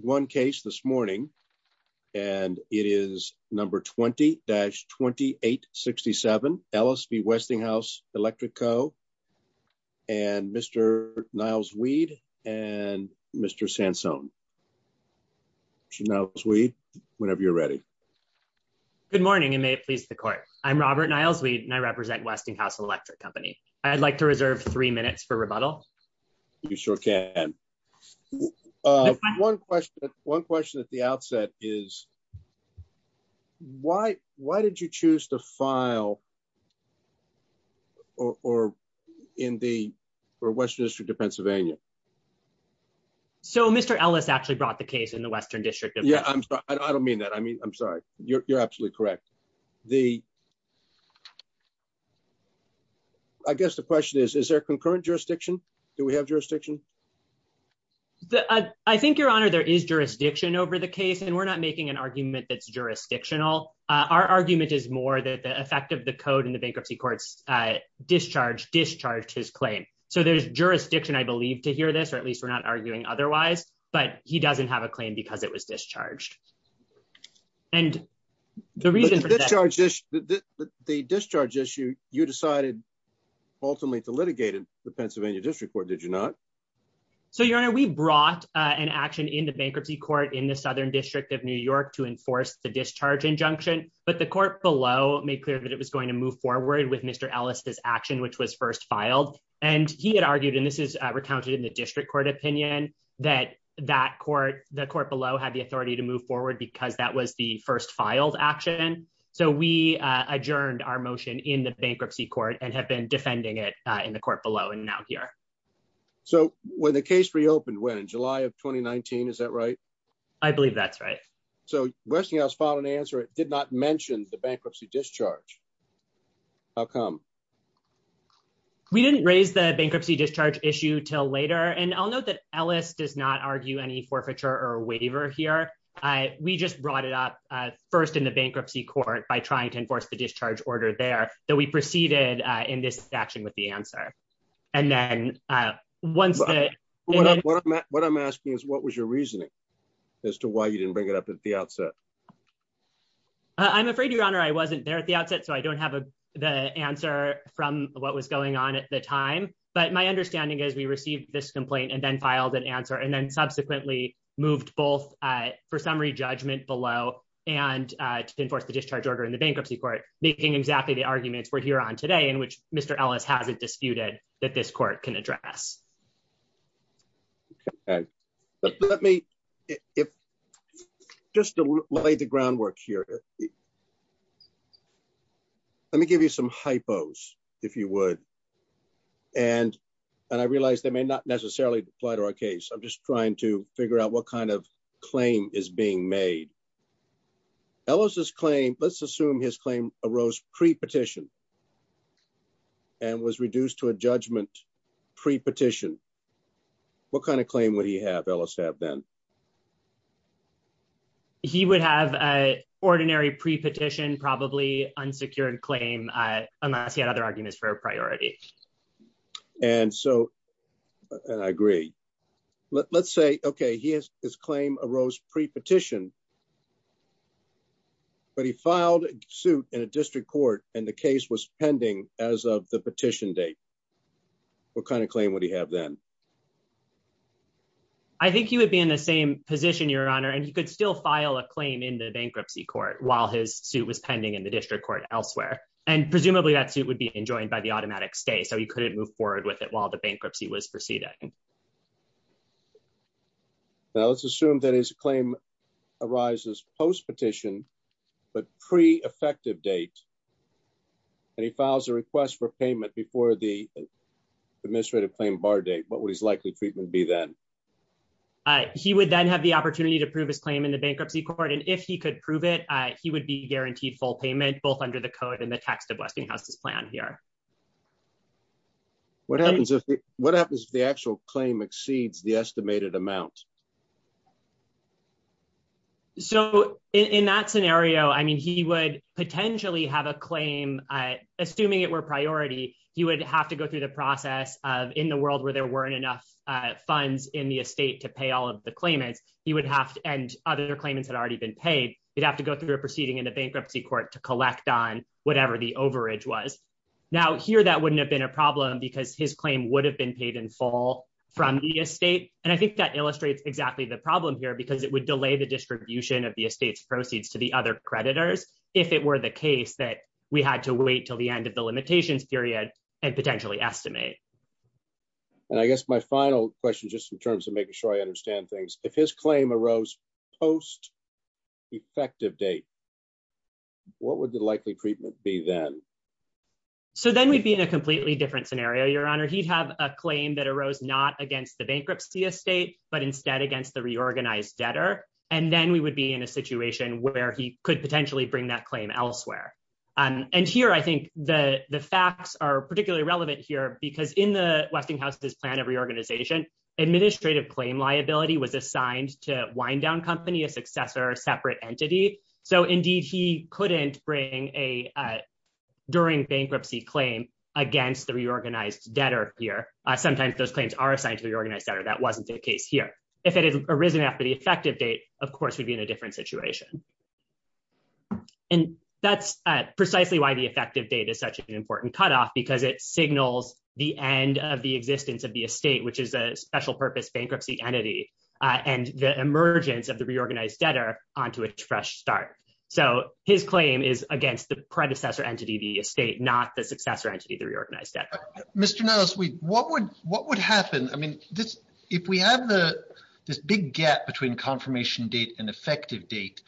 One case this morning, and it is number 20-2867, LSB Westinghouse Electric Co. And Mr. Niles-Weed and Mr. Sansone. Mr. Niles-Weed, whenever you're ready. Good morning, and may it please the court. I'm Robert Niles-Weed, and I represent Westinghouse Electric Company. I'd like to reserve three minutes for rebuttal. You sure can. One question at the outset is, why did you choose to file in the Western District of Pennsylvania? So Mr. Ellis actually brought the case in the Western District. Yeah, I'm sorry. I don't mean that. I mean, I'm sorry. You're absolutely correct. The, I guess the question is, is there concurrent jurisdiction? Do we have jurisdiction? I think, Your Honor, there is jurisdiction over the case, and we're not making an argument that's jurisdictional. Our argument is more that the effect of the code in the bankruptcy court's discharge discharged his claim. So there's jurisdiction, I believe, to hear this, or at least we're not arguing otherwise, but he doesn't have a claim because it was discharged. And the reason for that- But the discharge issue, you decided ultimately to litigate in the Pennsylvania District Court, did you not? So, Your Honor, we brought an action in the bankruptcy court in the Southern District of New York to enforce the discharge injunction, but the court below made clear that it was going to move forward with Mr. Ellis' action, which was first filed. And he had argued, and this is because that was the first filed action. So we adjourned our motion in the bankruptcy court and have been defending it in the court below and now here. So when the case reopened, when, in July of 2019, is that right? I believe that's right. So Westinghouse filed an answer. It did not mention the bankruptcy discharge. How come? We didn't raise the bankruptcy discharge issue till later. And I'll note that Ellis does not we just brought it up first in the bankruptcy court by trying to enforce the discharge order there that we proceeded in this action with the answer. And then once that- What I'm asking is what was your reasoning as to why you didn't bring it up at the outset? I'm afraid, Your Honor, I wasn't there at the outset, so I don't have the answer from what was going on at the time. But my understanding is we received this complaint and then filed an answer and then subsequently moved both for summary judgment below and to enforce the discharge order in the bankruptcy court, making exactly the arguments we're here on today in which Mr. Ellis hasn't disputed that this court can address. Let me, just to lay the groundwork here, let me give you some hypos, if you would. And I realize they may not necessarily apply to our case. I'm just trying to figure out what kind of claim is being made. Ellis' claim, let's assume his claim arose pre-petition and was reduced to a judgment pre-petition. What kind of claim would he have, Ellis, have then? He would have an ordinary pre-petition, probably unsecured claim, unless he had other arguments for a priority. And so, and I agree. Let's say, okay, his claim arose pre-petition, but he filed a suit in a district court and the case was pending as of the petition date. What kind of claim would he have then? I think he would be in the same position, Your Honor, and he could still file a claim in the bankruptcy court while his suit was pending in the district court elsewhere. And presumably, that suit would be enjoined by the automatic stay. So he couldn't move forward with it while the bankruptcy was proceeding. Now, let's assume that his claim arises post-petition, but pre-effective date, and he files a request for payment before the administrative claim bar date. What would that be? What would his likely treatment be then? He would then have the opportunity to prove his claim in the bankruptcy court, and if he could prove it, he would be guaranteed full payment, both under the code and the text of Westinghouse's plan here. What happens if the actual claim exceeds the estimated amount? So in that scenario, I mean, he would potentially have a claim, assuming it were priority, he would have to go through the process of, in the world where there weren't enough funds in the estate to pay all of the claimants, and other claimants had already been paid, he'd have to go through a proceeding in the bankruptcy court to collect on whatever the overage was. Now, here, that wouldn't have been a problem because his claim would have been paid in full from the estate. And I think that illustrates exactly the problem here because it would delay the distribution of the estate's proceeds to the other creditors if it were the case that we had to wait till the end of the limitations period and potentially estimate. And I guess my final question, just in terms of making sure I understand things, if his claim arose post effective date, what would the likely treatment be then? So then we'd be in a completely different scenario, Your Honor, he'd have a claim that arose not against the bankruptcy estate, but instead against the reorganized debtor. And then we would be in a situation where he could potentially bring that claim elsewhere. And here, I think the facts are particularly relevant here because in the Westinghouse's plan of reorganization, administrative claim liability was assigned to Windown Company, a successor separate entity. So indeed, he couldn't bring a during bankruptcy claim against the reorganized debtor here. Sometimes those claims are assigned to the organized debtor, that wasn't the case here. If it had arisen after the effective date, of course, we'd be in a different situation. And that's precisely why the effective date is such an important cutoff, because it signals the end of the existence of the estate, which is a special purpose bankruptcy entity, and the emergence of the reorganized debtor onto a fresh start. So his claim is against the predecessor entity, the estate, not the successor entity, the reorganized debtor. Mr. Nellis, what would happen? I mean, if we have this big gap between confirmation date and effective date,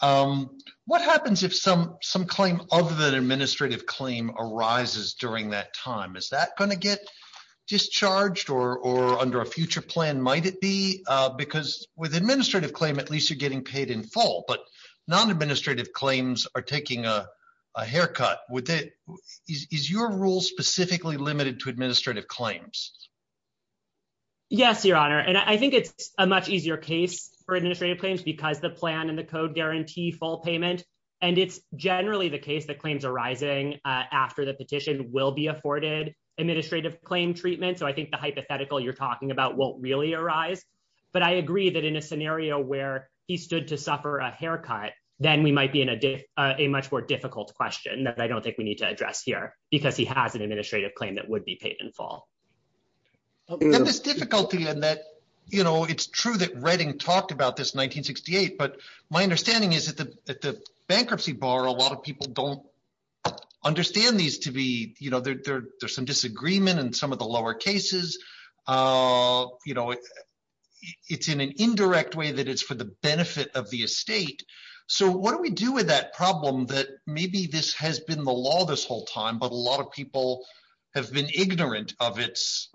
what happens if some claim other than administrative claim arises during that time? Is that going to get discharged or under a future plan might it be? Because with administrative claim, at least you're getting paid in full, but non-administrative claims are taking a haircut. Is your rule specifically limited to administrative claims? Yes, Your Honor. And I think it's a much easier case for administrative claims because the plan and the code guarantee full payment. And it's generally the case that claims arising after the petition will be afforded administrative claim treatment. So I think the hypothetical you're talking about won't really arise. But I agree that in a scenario where he stood to suffer a haircut, then we might be in a much more difficult question that I don't think we need to address here, because he has an administrative claim that would be paid in full. And this difficulty in that, you know, it's true that Redding talked about this in 1968, but my understanding is that the bankruptcy bar, a lot of people don't understand these to be, you know, there's some disagreement and some of the lower cases, you know, it's in an indirect way that it's for the benefit of the estate. So what do we do with that problem that maybe this has been the law this whole time, but a lot of people have been ignorant of its,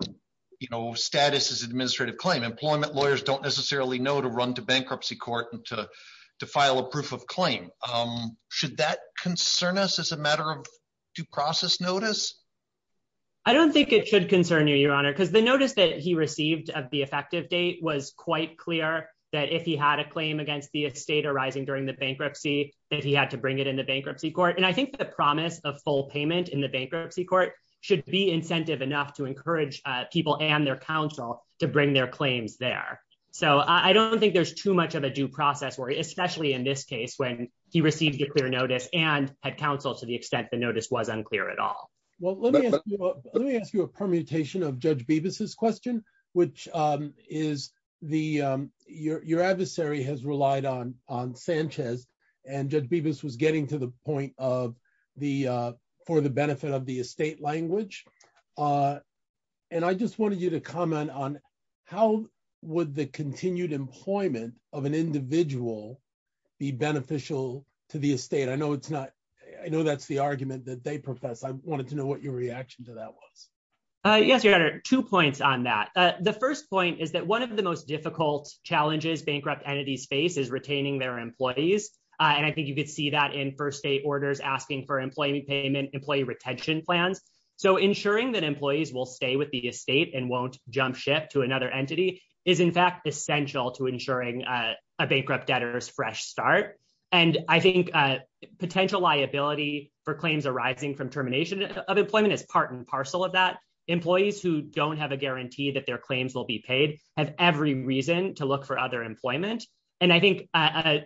you know, status as administrative claim employment lawyers don't necessarily know to run to bankruptcy court and to file a proof of claim. Should that concern us as a matter of due process notice? I don't think it should concern you, Your Honor, because the notice that he received of the effective date was quite clear that if he had a claim against the estate arising during the bankruptcy, that he had to bring it in the bankruptcy court. And I think the promise of full payment in the bankruptcy court should be incentive enough to encourage people and their counsel to bring their claims there. So I don't think there's too much of a due process where, especially in this case, when he received a clear notice and had counsel to the extent the notice was unclear at all. Well, let me ask you a permutation of Judge Bevis's question, which is your adversary has relied on Sanchez and Judge Bevis was getting to the point of the for the benefit of the estate language. And I just wanted you to comment on how would the continued employment of an individual be beneficial to the estate? I know it's not, I know that's the argument that they profess. I wanted to know what your reaction to that was. Yes, Your Honor, two points on that. The first point is that one of the most difficult challenges bankrupt entities face is retaining their employees. And I think you could see that in first day orders asking for employee payment, employee retention plans. So ensuring that employees will stay with the estate and won't jump ship to another entity is in fact essential to ensuring a bankrupt debtor's fresh start. And I think potential liability for claims arising from termination of employment is part and parcel of that. Employees who don't have a guarantee that their claims will be paid have every reason to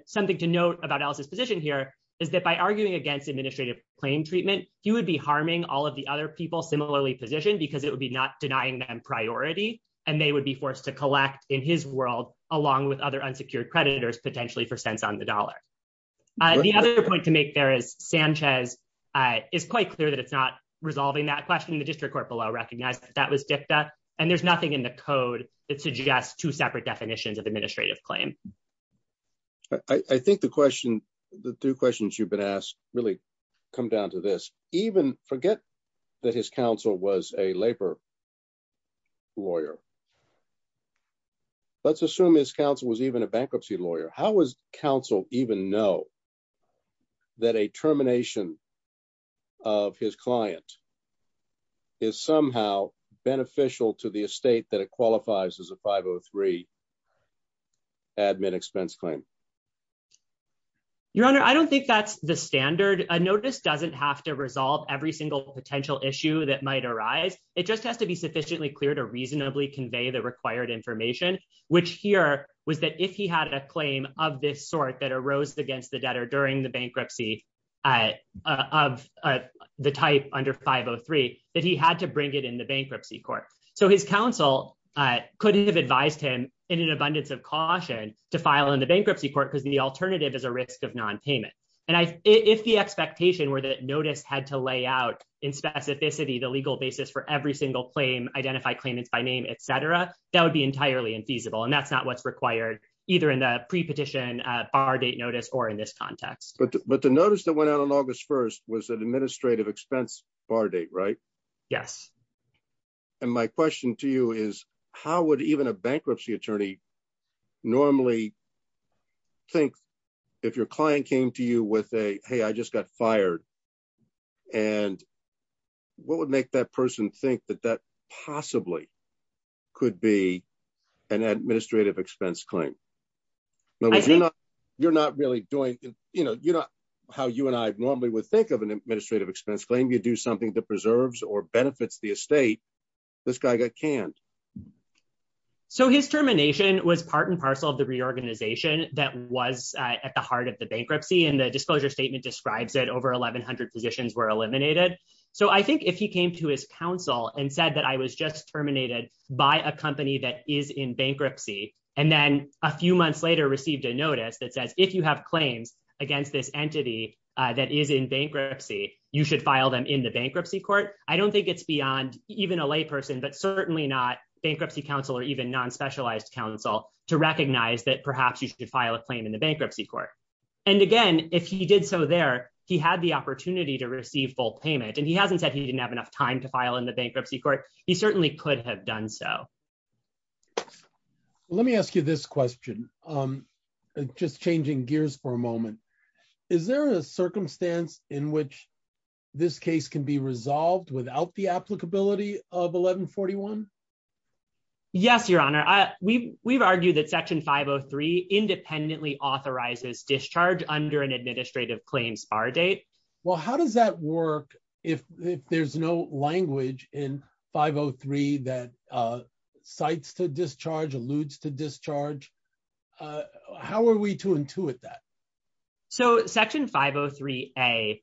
something to note about Ellis's position here is that by arguing against administrative claim treatment, he would be harming all of the other people similarly positioned because it would be not denying them priority. And they would be forced to collect in his world along with other unsecured creditors potentially for cents on the dollar. The other point to make there is Sanchez is quite clear that it's not resolving that question. The district court below recognized that that was dicta and there's nothing in the code that suggests two separate definitions of administrative claim. I think the question, the two questions you've been asked really come down to this even forget that his counsel was a labor lawyer. Let's assume his counsel was even a bankruptcy lawyer. How was counsel even know that a termination of his client is somehow beneficial to the estate that it qualifies as a 503 admin expense claim? Your honor, I don't think that's the standard. A notice doesn't have to resolve every single potential issue that might arise. It just has to be sufficiently clear to reasonably convey the required information, which here was that if he had a claim of this sort that arose against the debtor during the bankruptcy of the type under 503, that he had to bring it in the bankruptcy court. So his counsel couldn't have advised him in an abundance of caution to file in the bankruptcy court because the alternative is a risk of non-payment. And if the expectation were that notice had to lay out in specificity, the legal basis for every single claim, identify claimants by name, et cetera, that would be entirely infeasible. And that's not what's required either in the pre-petition bar date notice or in this context. But the notice that went out on August 1st was an administrative expense bar date, right? Yes. And my question to you is how would even a bankruptcy attorney normally think if your client came to you with a, hey, I just got fired. And what would make that person think that that possibly could be an administrative expense claim? You're not really doing, you know, you're not how you and I normally would think of an administrative expense claim. You do something that preserves or benefits the estate. This guy got canned. So his termination was part and parcel of the reorganization that was at the heart of the bankruptcy and the disclosure statement describes it over 1100 positions were eliminated. So I think if he came to his counsel and said that I was just terminated by a company that is in bankruptcy, and then a few months later received a notice that says, if you have claims against this entity that is in bankruptcy, you should file them in the bankruptcy court. I don't think it's beyond even a lay person, but certainly not bankruptcy counsel or even non-specialized counsel to recognize that perhaps you should file a claim in the bankruptcy court. And again, if he did so there, he had the opportunity to receive full payment. And he hasn't said he didn't have enough time to file in the bankruptcy court. He certainly could have done so. Let me ask you this question. I'm just changing gears for a moment. Is there a circumstance in which this case can be resolved without the applicability of 1141? Yes, your honor. We've argued that section 503 independently authorizes discharge under an if there's no language in 503 that cites to discharge, alludes to discharge. How are we to intuit that? So section 503A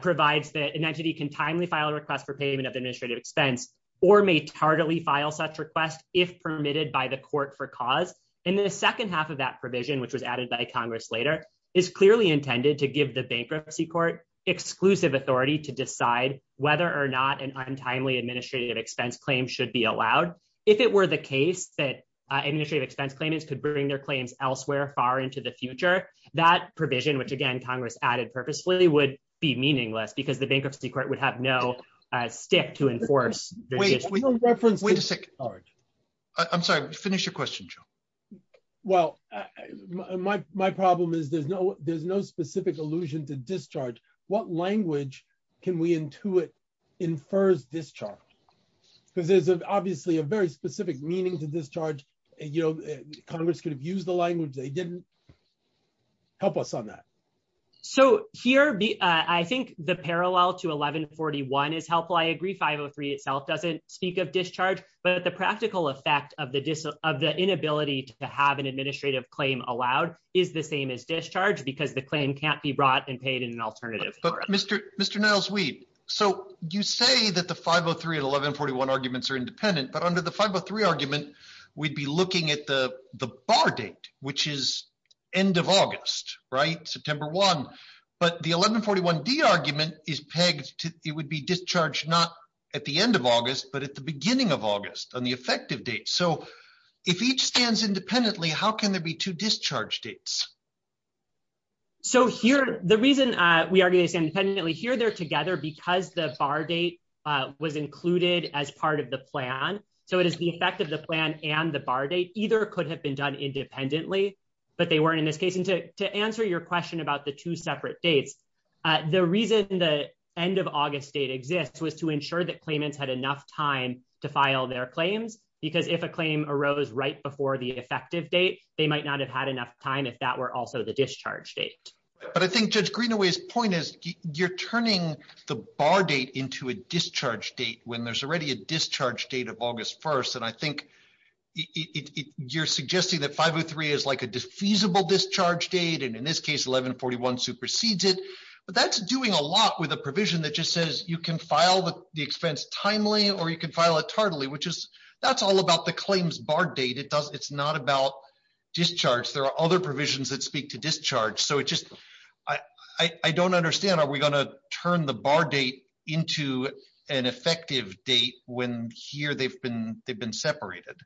provides that an entity can timely file a request for payment of administrative expense or may tardily file such request if permitted by the court for cause. And the second half of that provision, which was added by Congress later, is clearly intended to give the bankruptcy court exclusive authority to decide whether or not an untimely administrative expense claim should be allowed. If it were the case that administrative expense claimants could bring their claims elsewhere far into the future, that provision, which again Congress added purposefully, would be meaningless because the bankruptcy court would have no stick to enforce. Wait a second. I'm sorry, finish your question, Joe. Well, my problem is there's no specific allusion to discharge. What language can we intuit infers discharge? Because there's obviously a very specific meaning to discharge. Congress could have used the language they didn't. Help us on that. So here, I think the parallel to 1141 is helpful. I agree 503 itself doesn't speak of discharge, but the practical effect of the inability to have an administrative claim allowed is the same as discharge because the claim can't be brought and paid in an alternative. But Mr. Niles-Weed, so you say that the 503 and 1141 arguments are independent, but under the 503 argument, we'd be looking at the bar date, which is end of August, September 1. But the 1141D argument is pegged to, it would be discharged not at the end of August, but at the beginning of August on the effective date. So if each stands independently, how can there be two discharge dates? So here, the reason we already stand independently here, they're together because the bar date was included as part of the plan. So it is the effect of the plan and the bar date, either could have been done independently, but they weren't in this case to answer your question about the two separate dates. The reason the end of August date exists was to ensure that claimants had enough time to file their claims, because if a claim arose right before the effective date, they might not have had enough time if that were also the discharge date. But I think Judge Greenaway's point is you're turning the bar date into a discharge date when there's already a discharge date of August 1st. And I think you're suggesting that 503 is like a feasible discharge date. And in this case, 1141 supersedes it, but that's doing a lot with a provision that just says you can file the expense timely, or you can file it tardily, which is, that's all about the claims bar date. It's not about discharge. There are other provisions that speak to discharge. So it just, I don't understand, are we going to turn the bar date into an effective date when here they've been separated?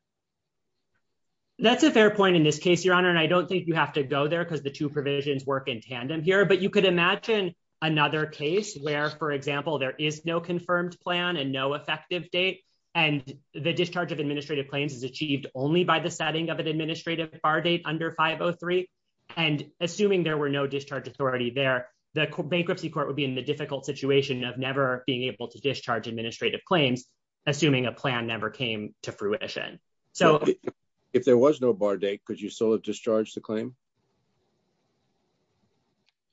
That's a fair point in this case, Your Honor. And I don't think you have to go there because the two provisions work in tandem here, but you could imagine another case where, for example, there is no confirmed plan and no effective date. And the discharge of administrative claims is achieved only by the setting of an administrative bar date under 503. And assuming there were no discharge authority there, the bankruptcy court would be in the difficult situation of never being able to discharge administrative claims, assuming a plan never came to fruition. If there was no bar date, could you still have discharged the claim?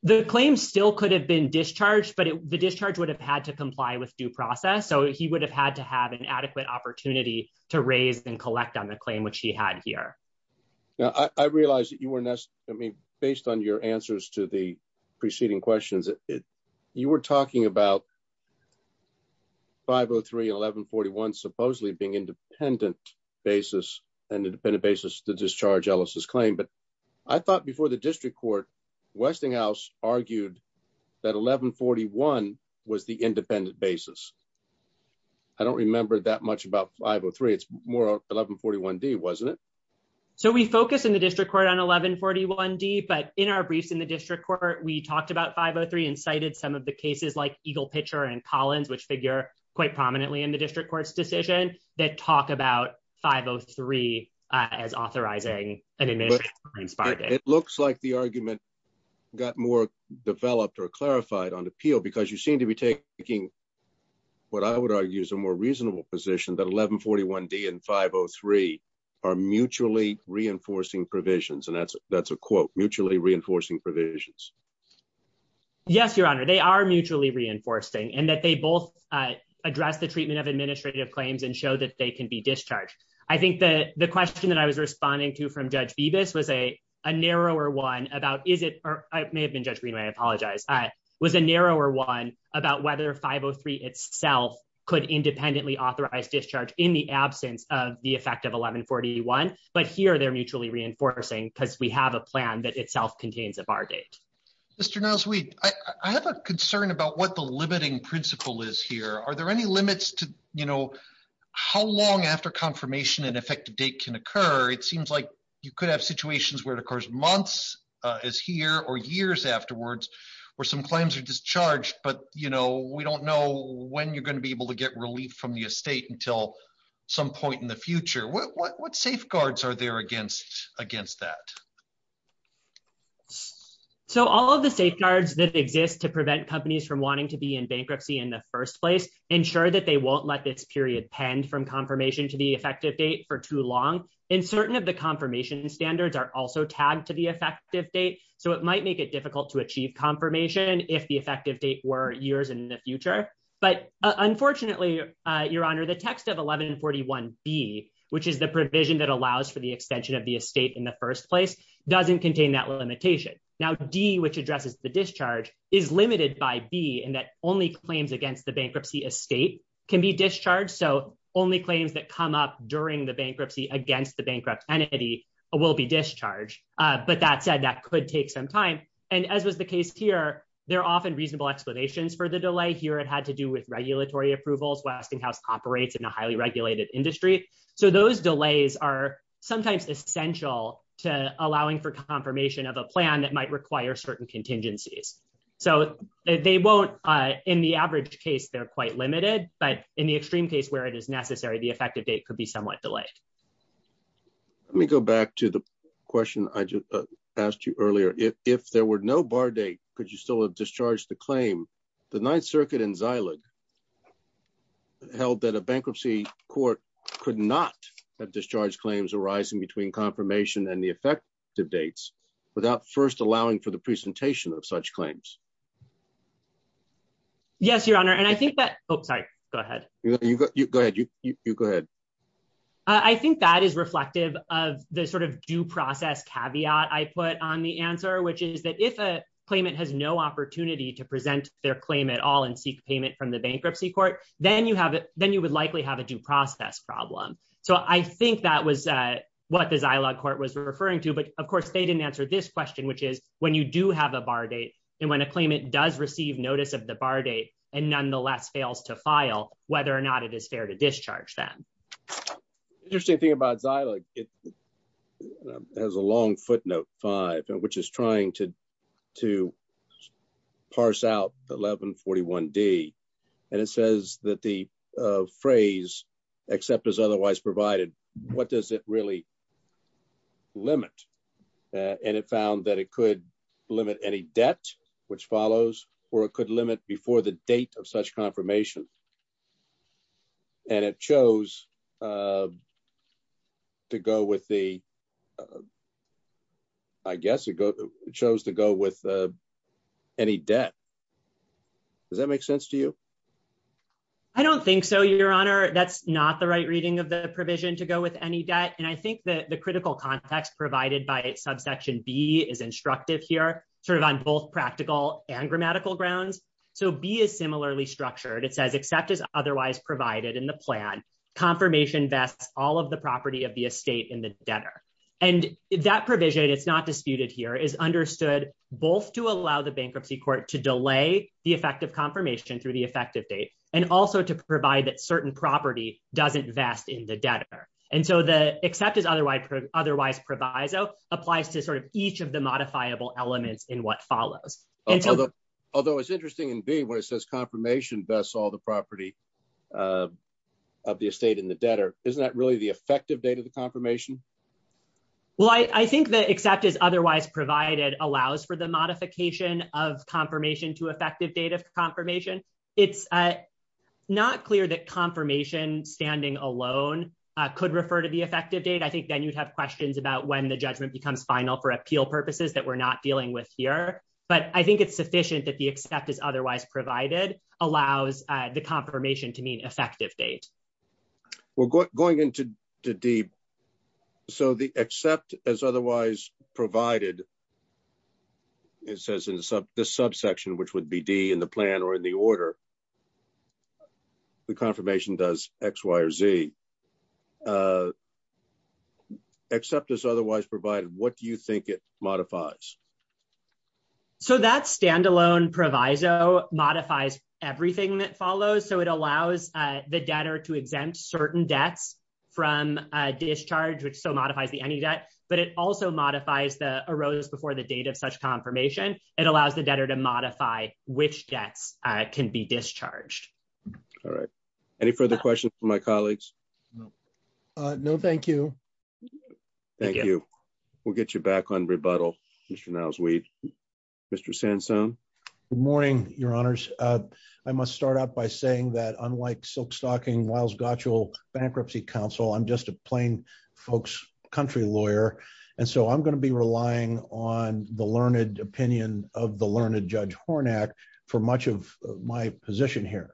The claim still could have been discharged, but the discharge would have had to comply with due process. So he would have had to have an adequate opportunity to raise and collect on the claim, which he had here. Now, I realized that you were, I mean, based on your answers to the preceding questions, you were talking about 503 and 1141 supposedly being independent basis, an independent basis to discharge Ellis's claim. But I thought before the district court, Westinghouse argued that 1141 was the independent basis. I don't remember that much about 503. It's more 1141D, wasn't it? So we focus in the district court on 1141D, but in our briefs in the district court, we talked about 503 and cited some of the cases like Eagle Pitcher and Collins, which figure quite prominently in the district court's decision that talk about 503 as authorizing an administrative claim. It looks like the argument got more developed or clarified on appeal because you seem to be taking what I would argue is a more reasonable position that 1141D and 503 are mutually reinforcing provisions. And that's a quote, mutually reinforcing provisions. Yes, your honor, they are mutually reinforcing and that they both address the treatment of administrative claims and show that they can be discharged. I think that the question that I was responding to from Judge Bibas was a narrower one about, is it, or I may have been Judge Greenway, I apologize, was a narrower one about whether 503 itself could independently authorize discharge in the absence of the effect of 1141. But here they're mutually reinforcing because we have a Mr. Nasweed, I have a concern about what the limiting principle is here. Are there any limits to, you know, how long after confirmation and effective date can occur? It seems like you could have situations where it occurs months as here or years afterwards, where some claims are discharged, but you know, we don't know when you're going to be able to get relief from the estate until some point in the future. What, what, what safeguards are there against, against that? So all of the safeguards that exist to prevent companies from wanting to be in bankruptcy in the first place, ensure that they won't let this period pend from confirmation to the effective date for too long. And certain of the confirmation standards are also tagged to the effective date. So it might make it difficult to achieve confirmation if the effective date were years in the future. But unfortunately, your honor, the text of 1141B, which is the provision that allows for the extension of the estate in the first place, doesn't contain that limitation. Now, D, which addresses the discharge is limited by B and that only claims against the bankruptcy estate can be discharged. So only claims that come up during the bankruptcy against the bankrupt entity will be discharged. But that said, that could take some time. And as was the case here, there are often reasonable explanations for the delay here. It had to do with regulatory approvals. Westinghouse operates in a highly regulated industry. So those delays are sometimes essential to allowing for confirmation of a plan that might require certain contingencies. So they won't, in the average case, they're quite limited, but in the extreme case where it is necessary, the effective date could be somewhat delayed. Let me go back to the question I just asked you earlier. If there were no bar date, could you still have discharged the claim? The Ninth Circuit in Zeiland held that a bankruptcy court could not have discharged claims arising between confirmation and the effective dates without first allowing for the presentation of such claims. Yes, your honor. And I think that, oh, sorry, go ahead. Go ahead. You go ahead. I think that is reflective of the sort of due process caveat I put on the claim at all and seek payment from the bankruptcy court. Then you would likely have a due process problem. So I think that was what the Zeiland court was referring to. But of course, they didn't answer this question, which is when you do have a bar date and when a claimant does receive notice of the bar date and nonetheless fails to file, whether or not it is fair to discharge them. Interesting thing about Zeiland, it has a long footnote five, which is trying to parse out 1141 D. And it says that the phrase except as otherwise provided, what does it really limit? And it found that it could limit any debt, which follows, or it could limit before the date of such confirmation. And it chose to go with the, I guess it chose to go with any debt. Does that make sense to you? I don't think so, your honor. That's not the right reading of the provision to go with any debt. And I think that the critical context provided by subsection B is instructive here, sort of on both practical and grammatical grounds. So B is similarly structured. It says except as otherwise provided in the plan, confirmation vests all of the property of the estate in the debtor. And that provision, it's not disputed here, is understood both to allow the bankruptcy court to delay the effective confirmation through the effective date, and also to provide that certain property doesn't vest in the debtor. And so the except otherwise proviso applies to sort of each of the modifiable elements in what follows. Although it's interesting in B where it says confirmation vests all the property of the estate in the debtor. Isn't that really the effective date of the confirmation? Well, I think that except as otherwise provided allows for the modification of confirmation to effective date of confirmation. It's not clear that confirmation standing alone could refer to effective date. I think then you'd have questions about when the judgment becomes final for appeal purposes that we're not dealing with here. But I think it's sufficient that the except is otherwise provided allows the confirmation to mean effective date. Well, going into D, so the except as otherwise provided, it says in this subsection, which would be D in the plan or in the order, the confirmation does X, Y, or Z. Except as otherwise provided, what do you think it modifies? So that standalone proviso modifies everything that follows. So it allows the debtor to exempt certain debts from discharge, which so modifies the any debt, but it also modifies the arose before the date of such confirmation. It allows the debtor to modify which debts can be deferred. And it also allows the debtor to exempt the debtor from any debt that may be discharged. All right. Any further questions for my colleagues? No, thank you. Thank you. We'll get you back on rebuttal. Mr. Niles-Weed. Mr. Sansone. Good morning, your honors. I must start out by saying that unlike silk stocking, Miles Gotchell, bankruptcy counsel, I'm just a plain folks country lawyer. And so I'm going to be relying on the learned opinion of the learned Judge Hornak for much of my position here.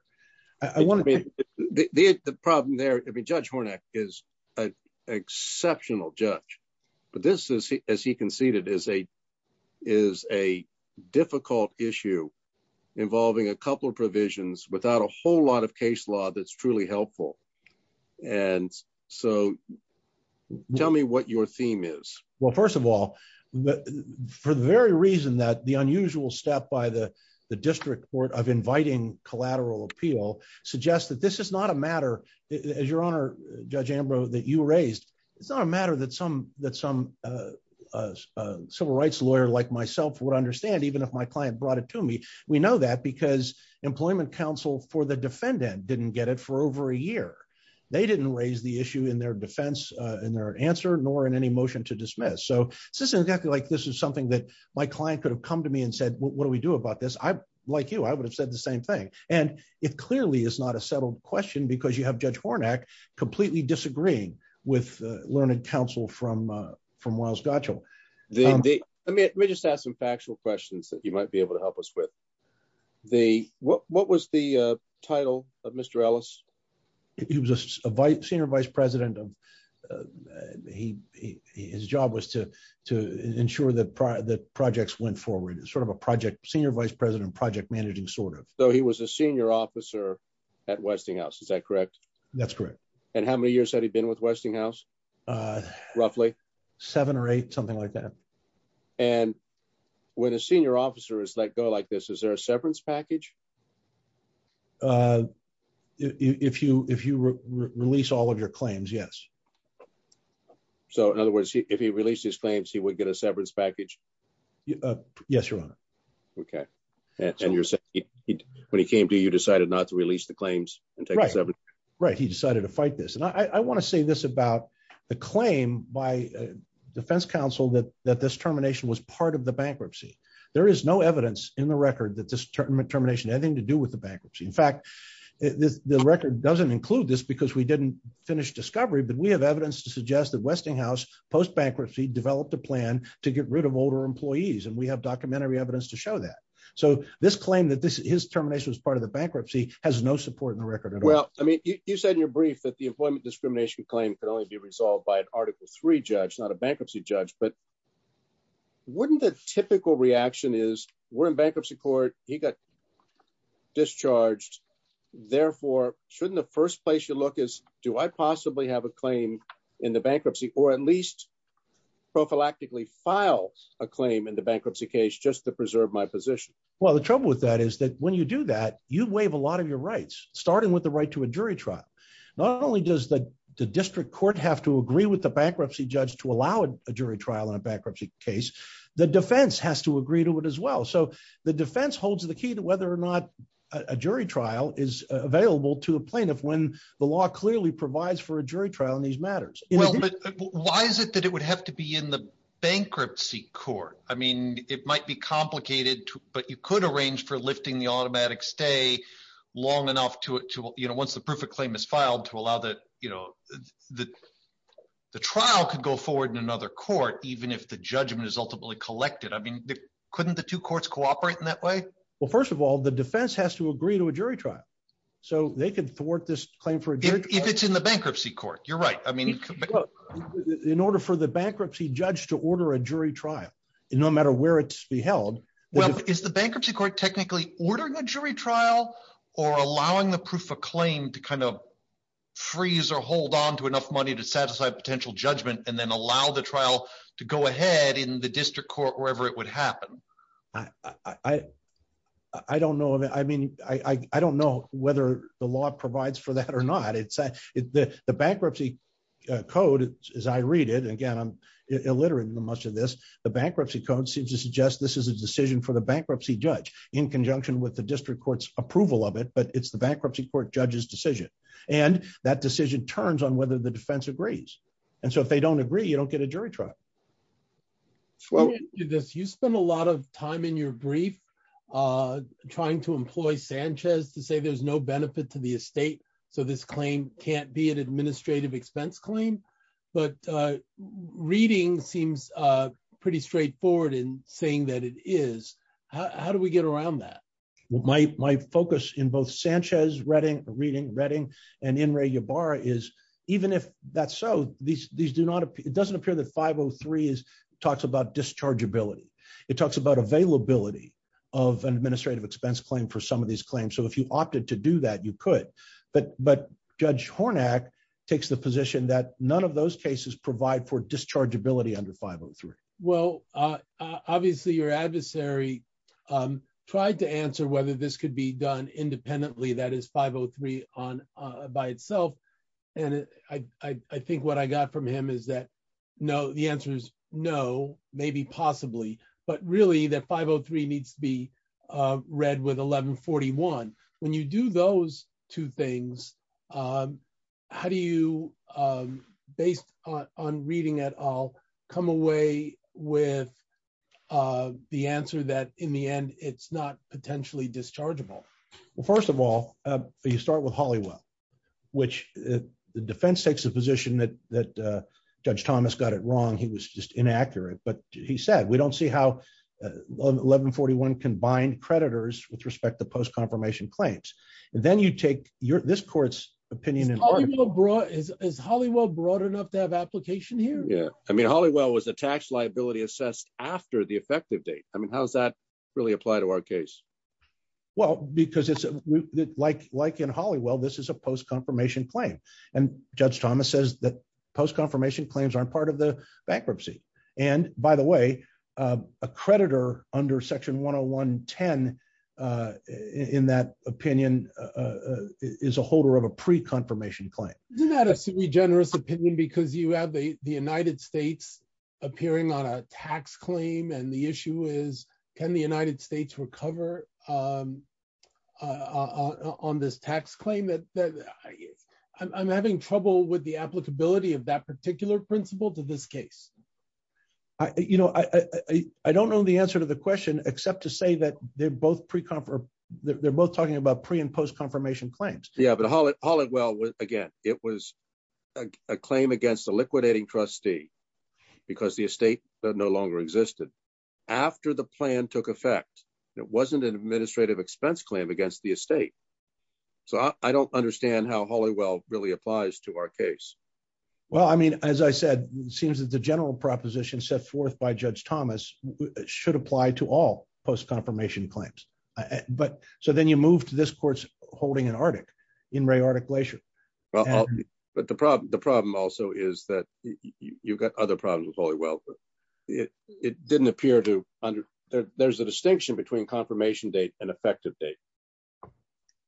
I want to be the problem there. I mean, Judge Hornak is an exceptional judge. But this is, as he conceded, is a is a difficult issue involving a couple of provisions without a whole lot of case law that's truly helpful. And so tell me what your theme is. Well, first of all, but for the very reason that the unusual step by the district court of inviting collateral appeal suggests that this is not a matter, as your honor, Judge Ambrose, that you raised. It's not a matter that some that some civil rights lawyer like myself would understand, even if my client brought it to me. We know that because employment counsel for the defendant didn't get it for over a year. They didn't raise the issue in their defense in their answer, nor in any motion to dismiss. So this is exactly like this is something that my client could have come to me and said, what do we do about this? I like you, I would have said the same thing. And it clearly is not a settled question because you have Judge Hornak completely disagreeing with learned counsel from Weill's Gotchell. Let me just ask some factual questions that you might be able to help us with. What was the title of Mr. Ellis? He was a senior vice president. His job was to to ensure that the projects went forward, sort of a project, senior vice president, project managing sort of. So he was a senior officer at Westinghouse. Is that correct? That's correct. And how many years had he been with Westinghouse? Roughly seven or eight, something like that. And when a senior officer is let go like this, is there a severance package? If you if you release all of your claims, yes. So in other words, if he released his claims, he would get a severance package. Yes, your honor. OK, and you're saying when he came to you decided not to release the claims and right. Right. He decided to fight this. And I want to say this about the claim by defense counsel that that this termination was part of the bankruptcy. There is no evidence in the record that this term termination had anything to do with the bankruptcy. In fact, the record doesn't include this because we didn't finish discovery. But we have evidence to suggest that Westinghouse post-bankruptcy developed a plan to get rid of older employees. And we have documentary evidence to show that. So this claim that his termination was part of bankruptcy has no support in the record. Well, I mean, you said in your brief that the employment discrimination claim could only be resolved by an article three judge, not a bankruptcy judge. But wouldn't the typical reaction is we're in bankruptcy court. He got discharged. Therefore, shouldn't the first place you look is do I possibly have a claim in the bankruptcy or at least prophylactically file a claim in the bankruptcy case just to preserve my position? Well, the trouble with that is that when you do that, you waive a lot of your rights, starting with the right to a jury trial. Not only does the district court have to agree with the bankruptcy judge to allow a jury trial in a bankruptcy case, the defense has to agree to it as well. So the defense holds the key to whether or not a jury trial is available to a plaintiff when the law clearly provides for a jury trial in these matters. Why is it that it would have to be the bankruptcy court? I mean, it might be complicated, but you could arrange for lifting the automatic stay long enough to it to, you know, once the proof of claim is filed to allow that, you know, that the trial could go forward in another court, even if the judgment is ultimately collected. I mean, couldn't the two courts cooperate in that way? Well, first of all, the defense has to agree to a jury trial. So they can thwart this claim for if it's in the bankruptcy court. You're right. I mean, in order for the bankruptcy judge to order a jury trial, no matter where it's held. Well, is the bankruptcy court technically ordering a jury trial or allowing the proof of claim to kind of freeze or hold on to enough money to satisfy potential judgment and then allow the trial to go ahead in the district court, wherever it would happen? I don't know. I mean, I don't know whether the law provides for that or not. It's the bankruptcy code, as I read it again, I'm illiterate in much of this. The bankruptcy code seems to suggest this is a decision for the bankruptcy judge in conjunction with the district court's approval of it. But it's the bankruptcy court judge's decision. And that decision turns on whether the defense agrees. And so if they don't agree, you don't get a jury trial. Well, you spend a lot of time in your brief trying to employ Sanchez to say there's no benefit to the estate. So this claim can't be an administrative expense claim. But reading seems pretty straightforward in saying that it is. How do we get around that? My focus in both Sanchez reading and in Ray Ybarra is even if that's so, it doesn't appear that 503 talks about discharge ability. It talks about availability of an administrative expense claim for some of these claims. So if you opted to do that, you could. But Judge Hornack takes the position that none of those cases provide for discharge ability under 503. Well, obviously, your adversary tried to answer whether this could be done independently, that is 503 on by itself. And I think what I got from him is that no, the answer is no, maybe possibly, but really that 503 needs to be read with 1141. When you do those two things, how do you, based on reading at all, come away with the answer that in the end, it's not potentially dischargeable? Well, first of all, you start with Holywell, which the defense takes position that Judge Thomas got it wrong. He was just inaccurate. But he said, we don't see how 1141 combined creditors with respect to post-confirmation claims. Then you take this court's opinion. Is Holywell broad enough to have application here? Yeah. I mean, Holywell was a tax liability assessed after the effective date. I mean, how does that really apply to our case? Well, because like in Holywell, this is a post-confirmation claim. And Judge Thomas says that post-confirmation claims aren't part of the bankruptcy. And by the way, a creditor under section 10110 in that opinion is a holder of a pre-confirmation claim. Isn't that a super generous opinion because you have the United States appearing on a tax claim and the issue is, can the United States recover on this tax claim? I'm having trouble with the applicability of that particular principle to this case. You know, I don't know the answer to the question except to say that they're both pre-confirm, they're both talking about pre and post-confirmation claims. Yeah. But Holywell, again, it was a claim against a liquidating trustee because the estate no longer existed after the plan took effect. It wasn't an administrative expense claim against the estate. So I don't understand how Holywell really applies to our case. Well, I mean, as I said, it seems that the general proposition set forth by Judge Thomas should apply to all post-confirmation claims. So then you move to this court's holding in Arctic, in Ray Arctic Glacier. But the problem also is that you've got other problems with Holywell, but it didn't appear to, there's a distinction between confirmation date and effective date.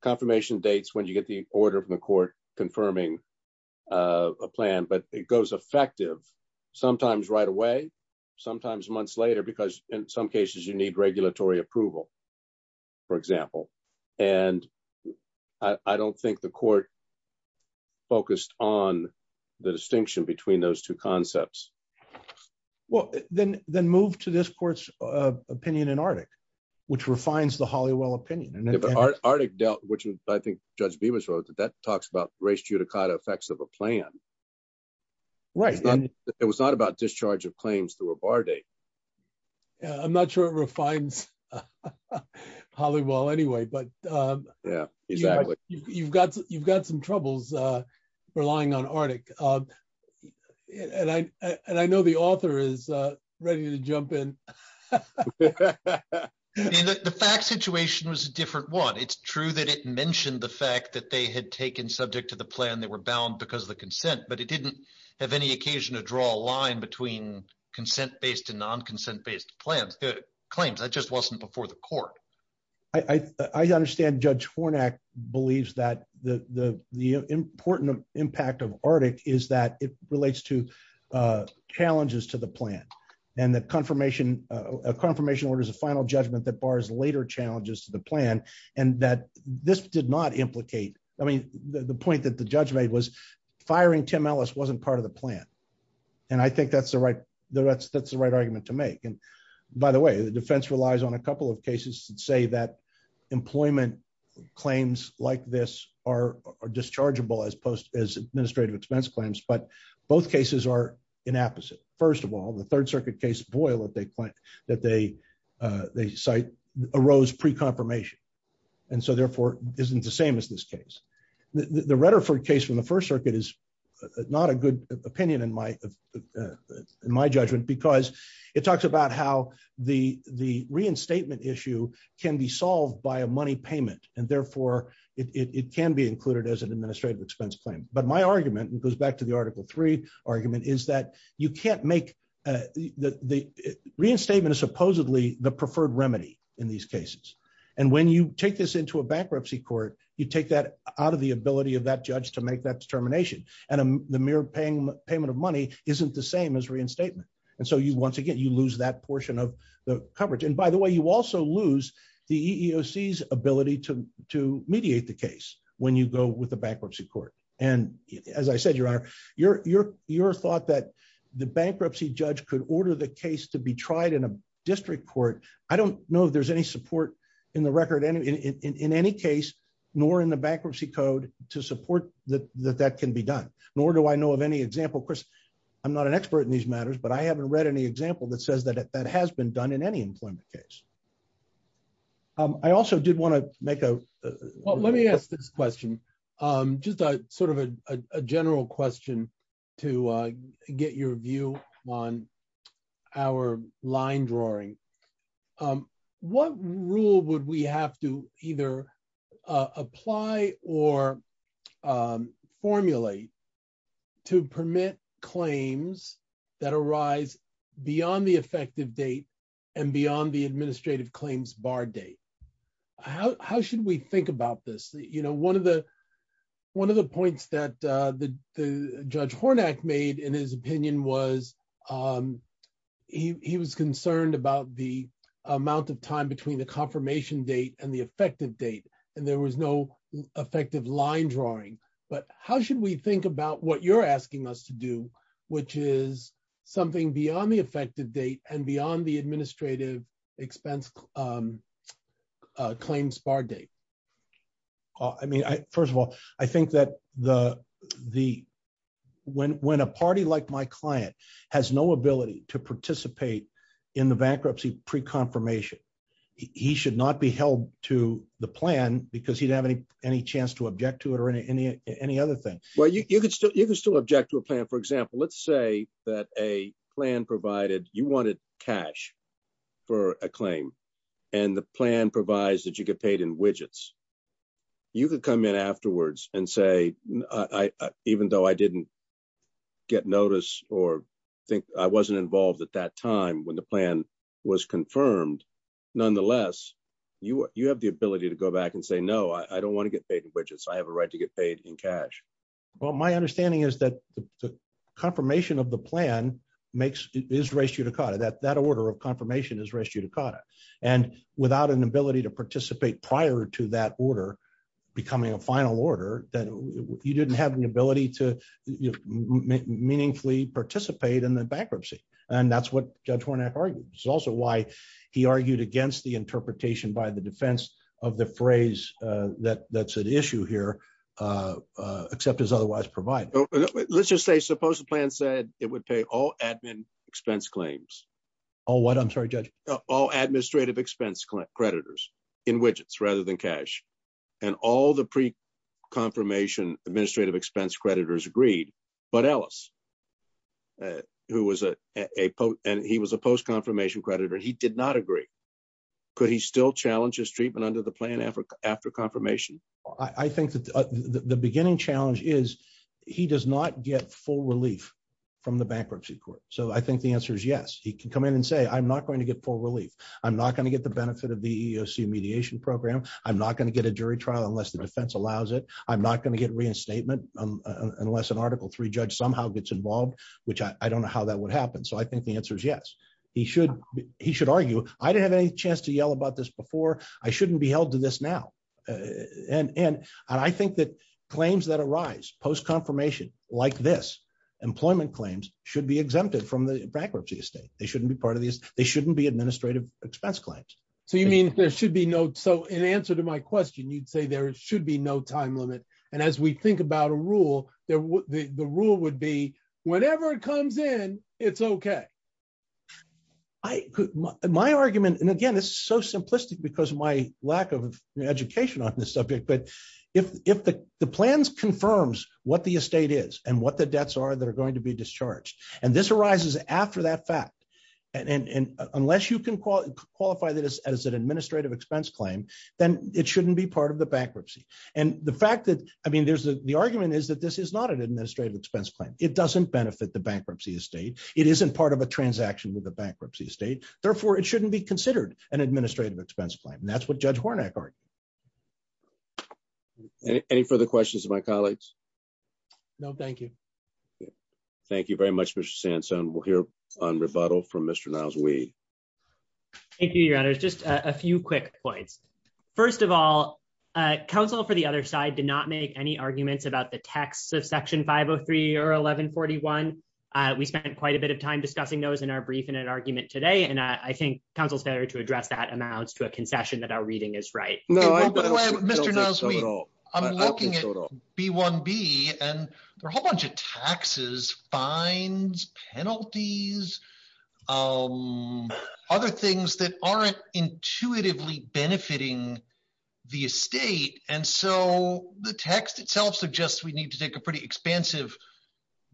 Confirmation dates when you get the order from the court confirming a plan, but it goes effective sometimes right away, sometimes months later, because in some cases you need regulatory approval, for example. And I don't think the court focused on the distinction between those two concepts. Well, then move to this court's opinion in Arctic, which refines the Holywell opinion. Yeah, but Arctic dealt, which I think Judge Bibas wrote, that talks about res judicata effects of a plan. It was not about discharge of claims through a bar date. I'm not sure it refines Holywell anyway, but you've got some troubles relying on Arctic. And I know the author is ready to jump in. I mean, the fact situation was a different one. It's true that it mentioned the fact that they had taken subject to the plan, they were bound because of the consent, but it didn't have any occasion to draw a line between consent-based and non-consent-based plans, claims. That just wasn't before the court. I understand Judge Fornak believes that the important impact of Arctic is that it relates to challenges to the plan. And the confirmation order is a final judgment that bars later challenges to the plan. And that this did not implicate, I mean, the point that the judge made was firing Tim Ellis wasn't part of the plan. And I think that's the right argument to make. And by the way, the defense relies on a couple of cases that say that employment claims like this are dischargeable as administrative expense claims, but both cases are inapposite. First of all, the Third Circuit case, Boyle, that they cite arose pre-confirmation. And so therefore isn't the same as this case. The Reddiford case from the First Circuit is not a good opinion in my judgment, because it talks about how the reinstatement issue can be solved by a money payment. And therefore, it can be included as an administrative expense claim. But my argument, and it goes back to the the preferred remedy in these cases. And when you take this into a bankruptcy court, you take that out of the ability of that judge to make that determination. And the mere payment of money isn't the same as reinstatement. And so you once again, you lose that portion of the coverage. And by the way, you also lose the EEOC's ability to mediate the case when you go with the bankruptcy court. And as I said, Your Honor, your thought that the bankruptcy judge could order the case to be tried in a district court, I don't know if there's any support in the record in any case, nor in the bankruptcy code to support that that can be done. Nor do I know of any example. Of course, I'm not an expert in these matters, but I haven't read any example that says that that has been done in any employment case. I also did want to make a... line drawing. What rule would we have to either apply or formulate to permit claims that arise beyond the effective date and beyond the administrative claims bar date? How should we think about this? One of the points that the Judge Hornak made in his opinion was he was concerned about the amount of time between the confirmation date and the effective date, and there was no effective line drawing. But how should we think about what you're asking us to do, which is something beyond the effective date and beyond the administrative expense claims bar date? I mean, first of all, I think that when a party like my client no ability to participate in the bankruptcy pre-confirmation, he should not be held to the plan because he'd have any chance to object to it or any other thing. Well, you could still object to a plan. For example, let's say that a plan provided you wanted cash for a claim, and the plan provides that you get paid in widgets. You could come in afterwards and say, even though I didn't get notice or think I wasn't involved at that time when the plan was confirmed, nonetheless, you have the ability to go back and say, no, I don't want to get paid in widgets. I have a right to get paid in cash. Well, my understanding is that the confirmation of the plan is res judicata. That order of becoming a final order that you didn't have an ability to meaningfully participate in the bankruptcy. And that's what Judge Hornak argued. It's also why he argued against the interpretation by the defense of the phrase that's at issue here, except as otherwise provided. Let's just say, suppose the plan said it would pay all admin expense claims. All what? I'm sorry, Judge. All administrative expense creditors in widgets rather than cash. And all the pre-confirmation administrative expense creditors agreed. But Ellis, who was a post-confirmation creditor, he did not agree. Could he still challenge his treatment under the plan after confirmation? I think that the beginning challenge is he does not get full relief from the bankruptcy court. I think the answer is yes. He can come in and say, I'm not going to get full relief. I'm not going to get the benefit of the EEOC mediation program. I'm not going to get a jury trial unless the defense allows it. I'm not going to get reinstatement unless an article three judge somehow gets involved, which I don't know how that would happen. I think the answer is yes. He should argue, I didn't have any chance to yell about this before. I shouldn't be held to this now. And I think that claims that arise post-confirmation like this, employment claims should be exempted from the bankruptcy estate. They shouldn't be administrative expense claims. So you mean there should be no, so in answer to my question, you'd say there should be no time limit. And as we think about a rule, the rule would be whenever it comes in, it's okay. My argument, and again, this is so simplistic because of my lack of education on this subject, but if the plans confirms what the estate is and what the debts are that are going to be discharged, arises after that fact, and unless you can qualify that as an administrative expense claim, then it shouldn't be part of the bankruptcy. And the fact that, I mean, there's the argument is that this is not an administrative expense claim. It doesn't benefit the bankruptcy estate. It isn't part of a transaction with the bankruptcy estate. Therefore it shouldn't be considered an administrative expense claim. And that's what judge Hornak argued. Any further questions of my colleagues? No, thank you. Okay. Thank you very much, Mr. Sansone. We'll hear on rebuttal from Mr. Niles-Weed. Thank you, your honors. Just a few quick points. First of all, council for the other side did not make any arguments about the texts of section 503 or 1141. We spent quite a bit of time discussing those in our brief in an argument today. And I think council's better to address that amounts to a concession that our reading is right. Mr. Niles-Weed, I'm looking at B1B, and there are a whole bunch of taxes, fines, penalties, other things that aren't intuitively benefiting the estate. And so the text itself suggests we need to take a pretty expansive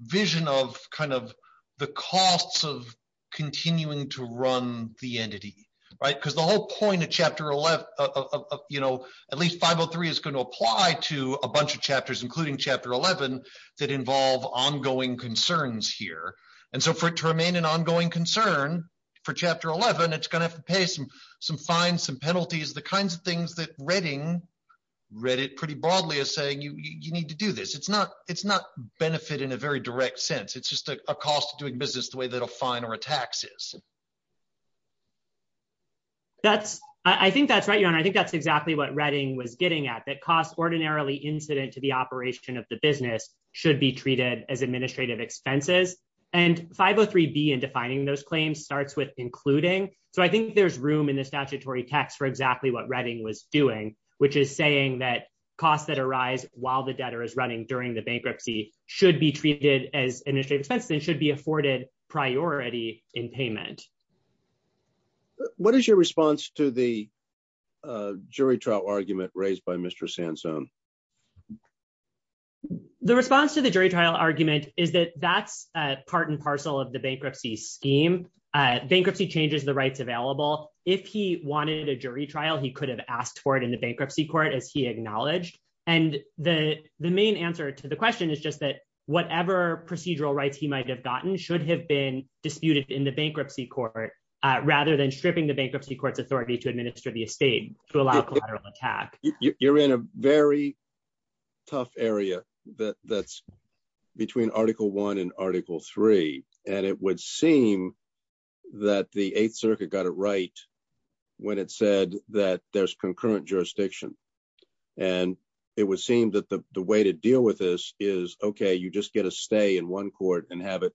vision of kind of the costs of continuing to run the entity, right? Because the whole point of you know, at least 503 is going to apply to a bunch of chapters, including chapter 11, that involve ongoing concerns here. And so for it to remain an ongoing concern for chapter 11, it's going to have to pay some fines, some penalties, the kinds of things that Redding read it pretty broadly as saying you need to do this. It's not benefit in a very direct sense. It's just a cost of doing business the way that a fine or a tax is. Mr. Niles-Weed, I think that's right, your honor. I think that's exactly what Redding was getting at that costs ordinarily incident to the operation of the business should be treated as administrative expenses. And 503B in defining those claims starts with including. So I think there's room in the statutory text for exactly what Redding was doing, which is saying that costs that arise while the debtor is running during the bankruptcy should be treated as should be afforded priority in payment. What is your response to the jury trial argument raised by Mr. Sansone? The response to the jury trial argument is that that's part and parcel of the bankruptcy scheme. Bankruptcy changes the rights available. If he wanted a jury trial, he could have asked for it in the bankruptcy court as he acknowledged. And the main answer to the question is just that ever procedural rights he might have gotten should have been disputed in the bankruptcy court rather than stripping the bankruptcy court's authority to administer the estate to allow collateral attack. You're in a very tough area that's between article one and article three. And it would seem that the Eighth Circuit got it right when it said that there's concurrent stay in one court and have it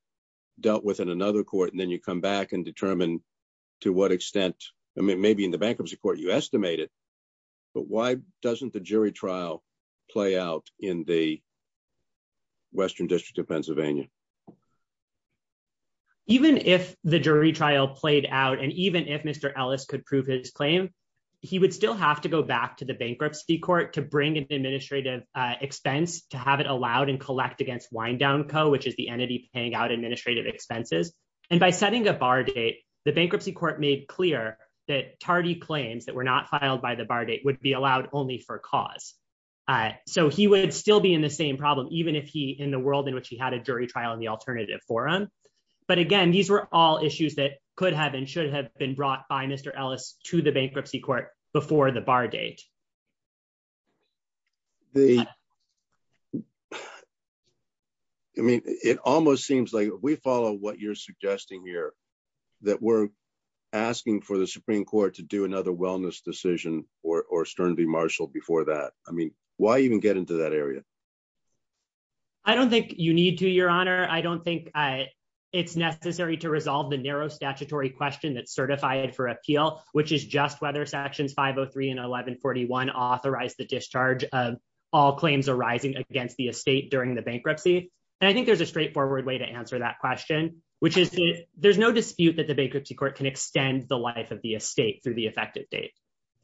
dealt with in another court. And then you come back and determine to what extent, I mean, maybe in the bankruptcy court, you estimate it. But why doesn't the jury trial play out in the Western District of Pennsylvania? Even if the jury trial played out, and even if Mr. Ellis could prove his claim, he would still have to go back to the bankruptcy court to bring an administrative expense to have it allowed and collect against wind down co, which is the entity paying out administrative expenses. And by setting a bar date, the bankruptcy court made clear that tardy claims that were not filed by the bar date would be allowed only for cause. So he would still be in the same problem, even if he in the world in which he had a jury trial in the alternative forum. But again, these were all issues that could have and should have been brought by Mr. Ellis to the bankruptcy court before the bar date. They mean, it almost seems like we follow what you're suggesting here, that we're asking for the Supreme Court to do another wellness decision or sternly marshal before that. I mean, why even get into that area? I don't think you need to, Your Honor, I don't think it's necessary to resolve the narrow statutory question that certified for appeal, which is just whether sections 503 and 1141 authorized the discharge of all claims arising against the estate during the bankruptcy. And I think there's a straightforward way to answer that question, which is there's no dispute that the bankruptcy court can extend the life of the estate through the effective date.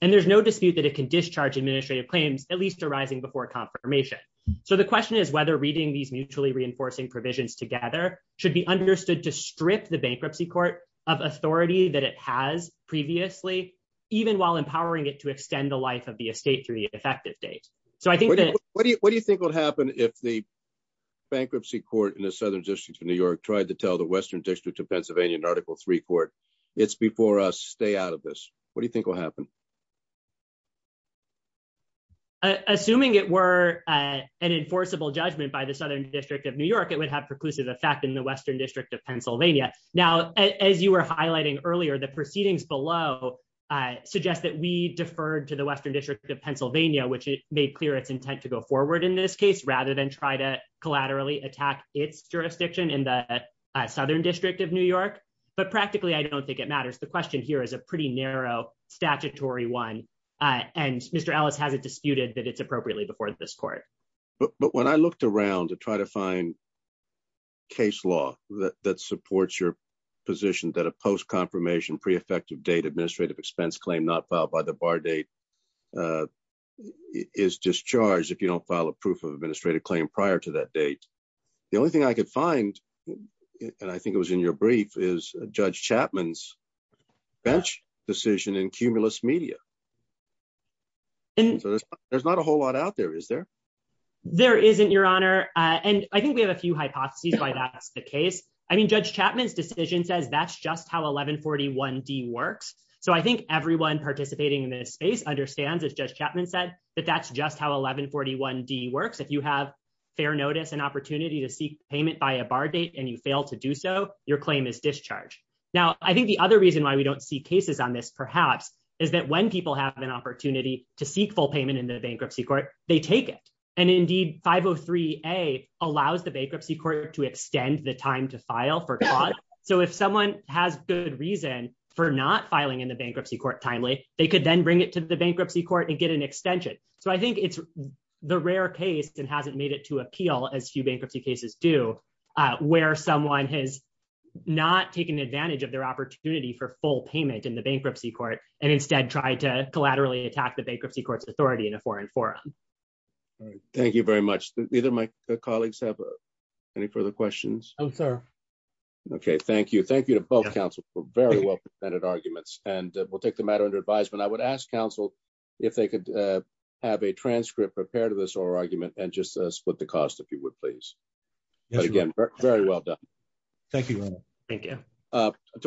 And there's no dispute that it can discharge administrative claims, at least arising before confirmation. So the question is whether reading these mutually reinforcing provisions together should be understood to strip the bankruptcy court of authority that it has previously, even while empowering it to extend the life of the estate through the effective date. So I think that- What do you think would happen if the bankruptcy court in the Southern District of New York tried to tell the Western District of Pennsylvania in Article III court, it's before us, stay out of this? What do you think will happen? Assuming it were an enforceable judgment by the Southern District of New York, it would preclusive effect in the Western District of Pennsylvania. Now, as you were highlighting earlier, the proceedings below suggest that we deferred to the Western District of Pennsylvania, which made clear its intent to go forward in this case rather than try to collaterally attack its jurisdiction in the Southern District of New York. But practically, I don't think it matters. The question here is a pretty narrow statutory one. And Mr. Ellis hasn't disputed that it's a very well-defined case law that supports your position that a post-confirmation pre-effective date administrative expense claim not filed by the bar date is discharged if you don't file a proof of administrative claim prior to that date. The only thing I could find, and I think it was in your brief, is Judge Chapman's bench decision in Cumulus Media. There's not a whole lot out there, is there? There isn't, Your Honor. And I think we have a few hypotheses why that's the case. I mean, Judge Chapman's decision says that's just how 1141D works. So I think everyone participating in this space understands, as Judge Chapman said, that that's just how 1141D works. If you have fair notice and opportunity to seek payment by a bar date and you fail to do so, your claim is discharged. Now, I think the other reason why we don't see cases on this, perhaps, is that when people have an opportunity to seek full payment in the bankruptcy court, take it. And indeed, 503A allows the bankruptcy court to extend the time to file for cause. So if someone has good reason for not filing in the bankruptcy court timely, they could then bring it to the bankruptcy court and get an extension. So I think it's the rare case and hasn't made it to appeal, as few bankruptcy cases do, where someone has not taken advantage of their opportunity for full payment in the bankruptcy court and instead tried to collaterally attack the bankruptcy court's authority in a foreign forum. Thank you very much. Either my colleagues have any further questions? No, sir. Okay, thank you. Thank you to both counsel for very well-presented arguments. And we'll take the matter under advisement. I would ask counsel if they could have a transcript prepared of this oral argument and just split the cost, if you would, please. Again, very well done. Thank you. Thank you.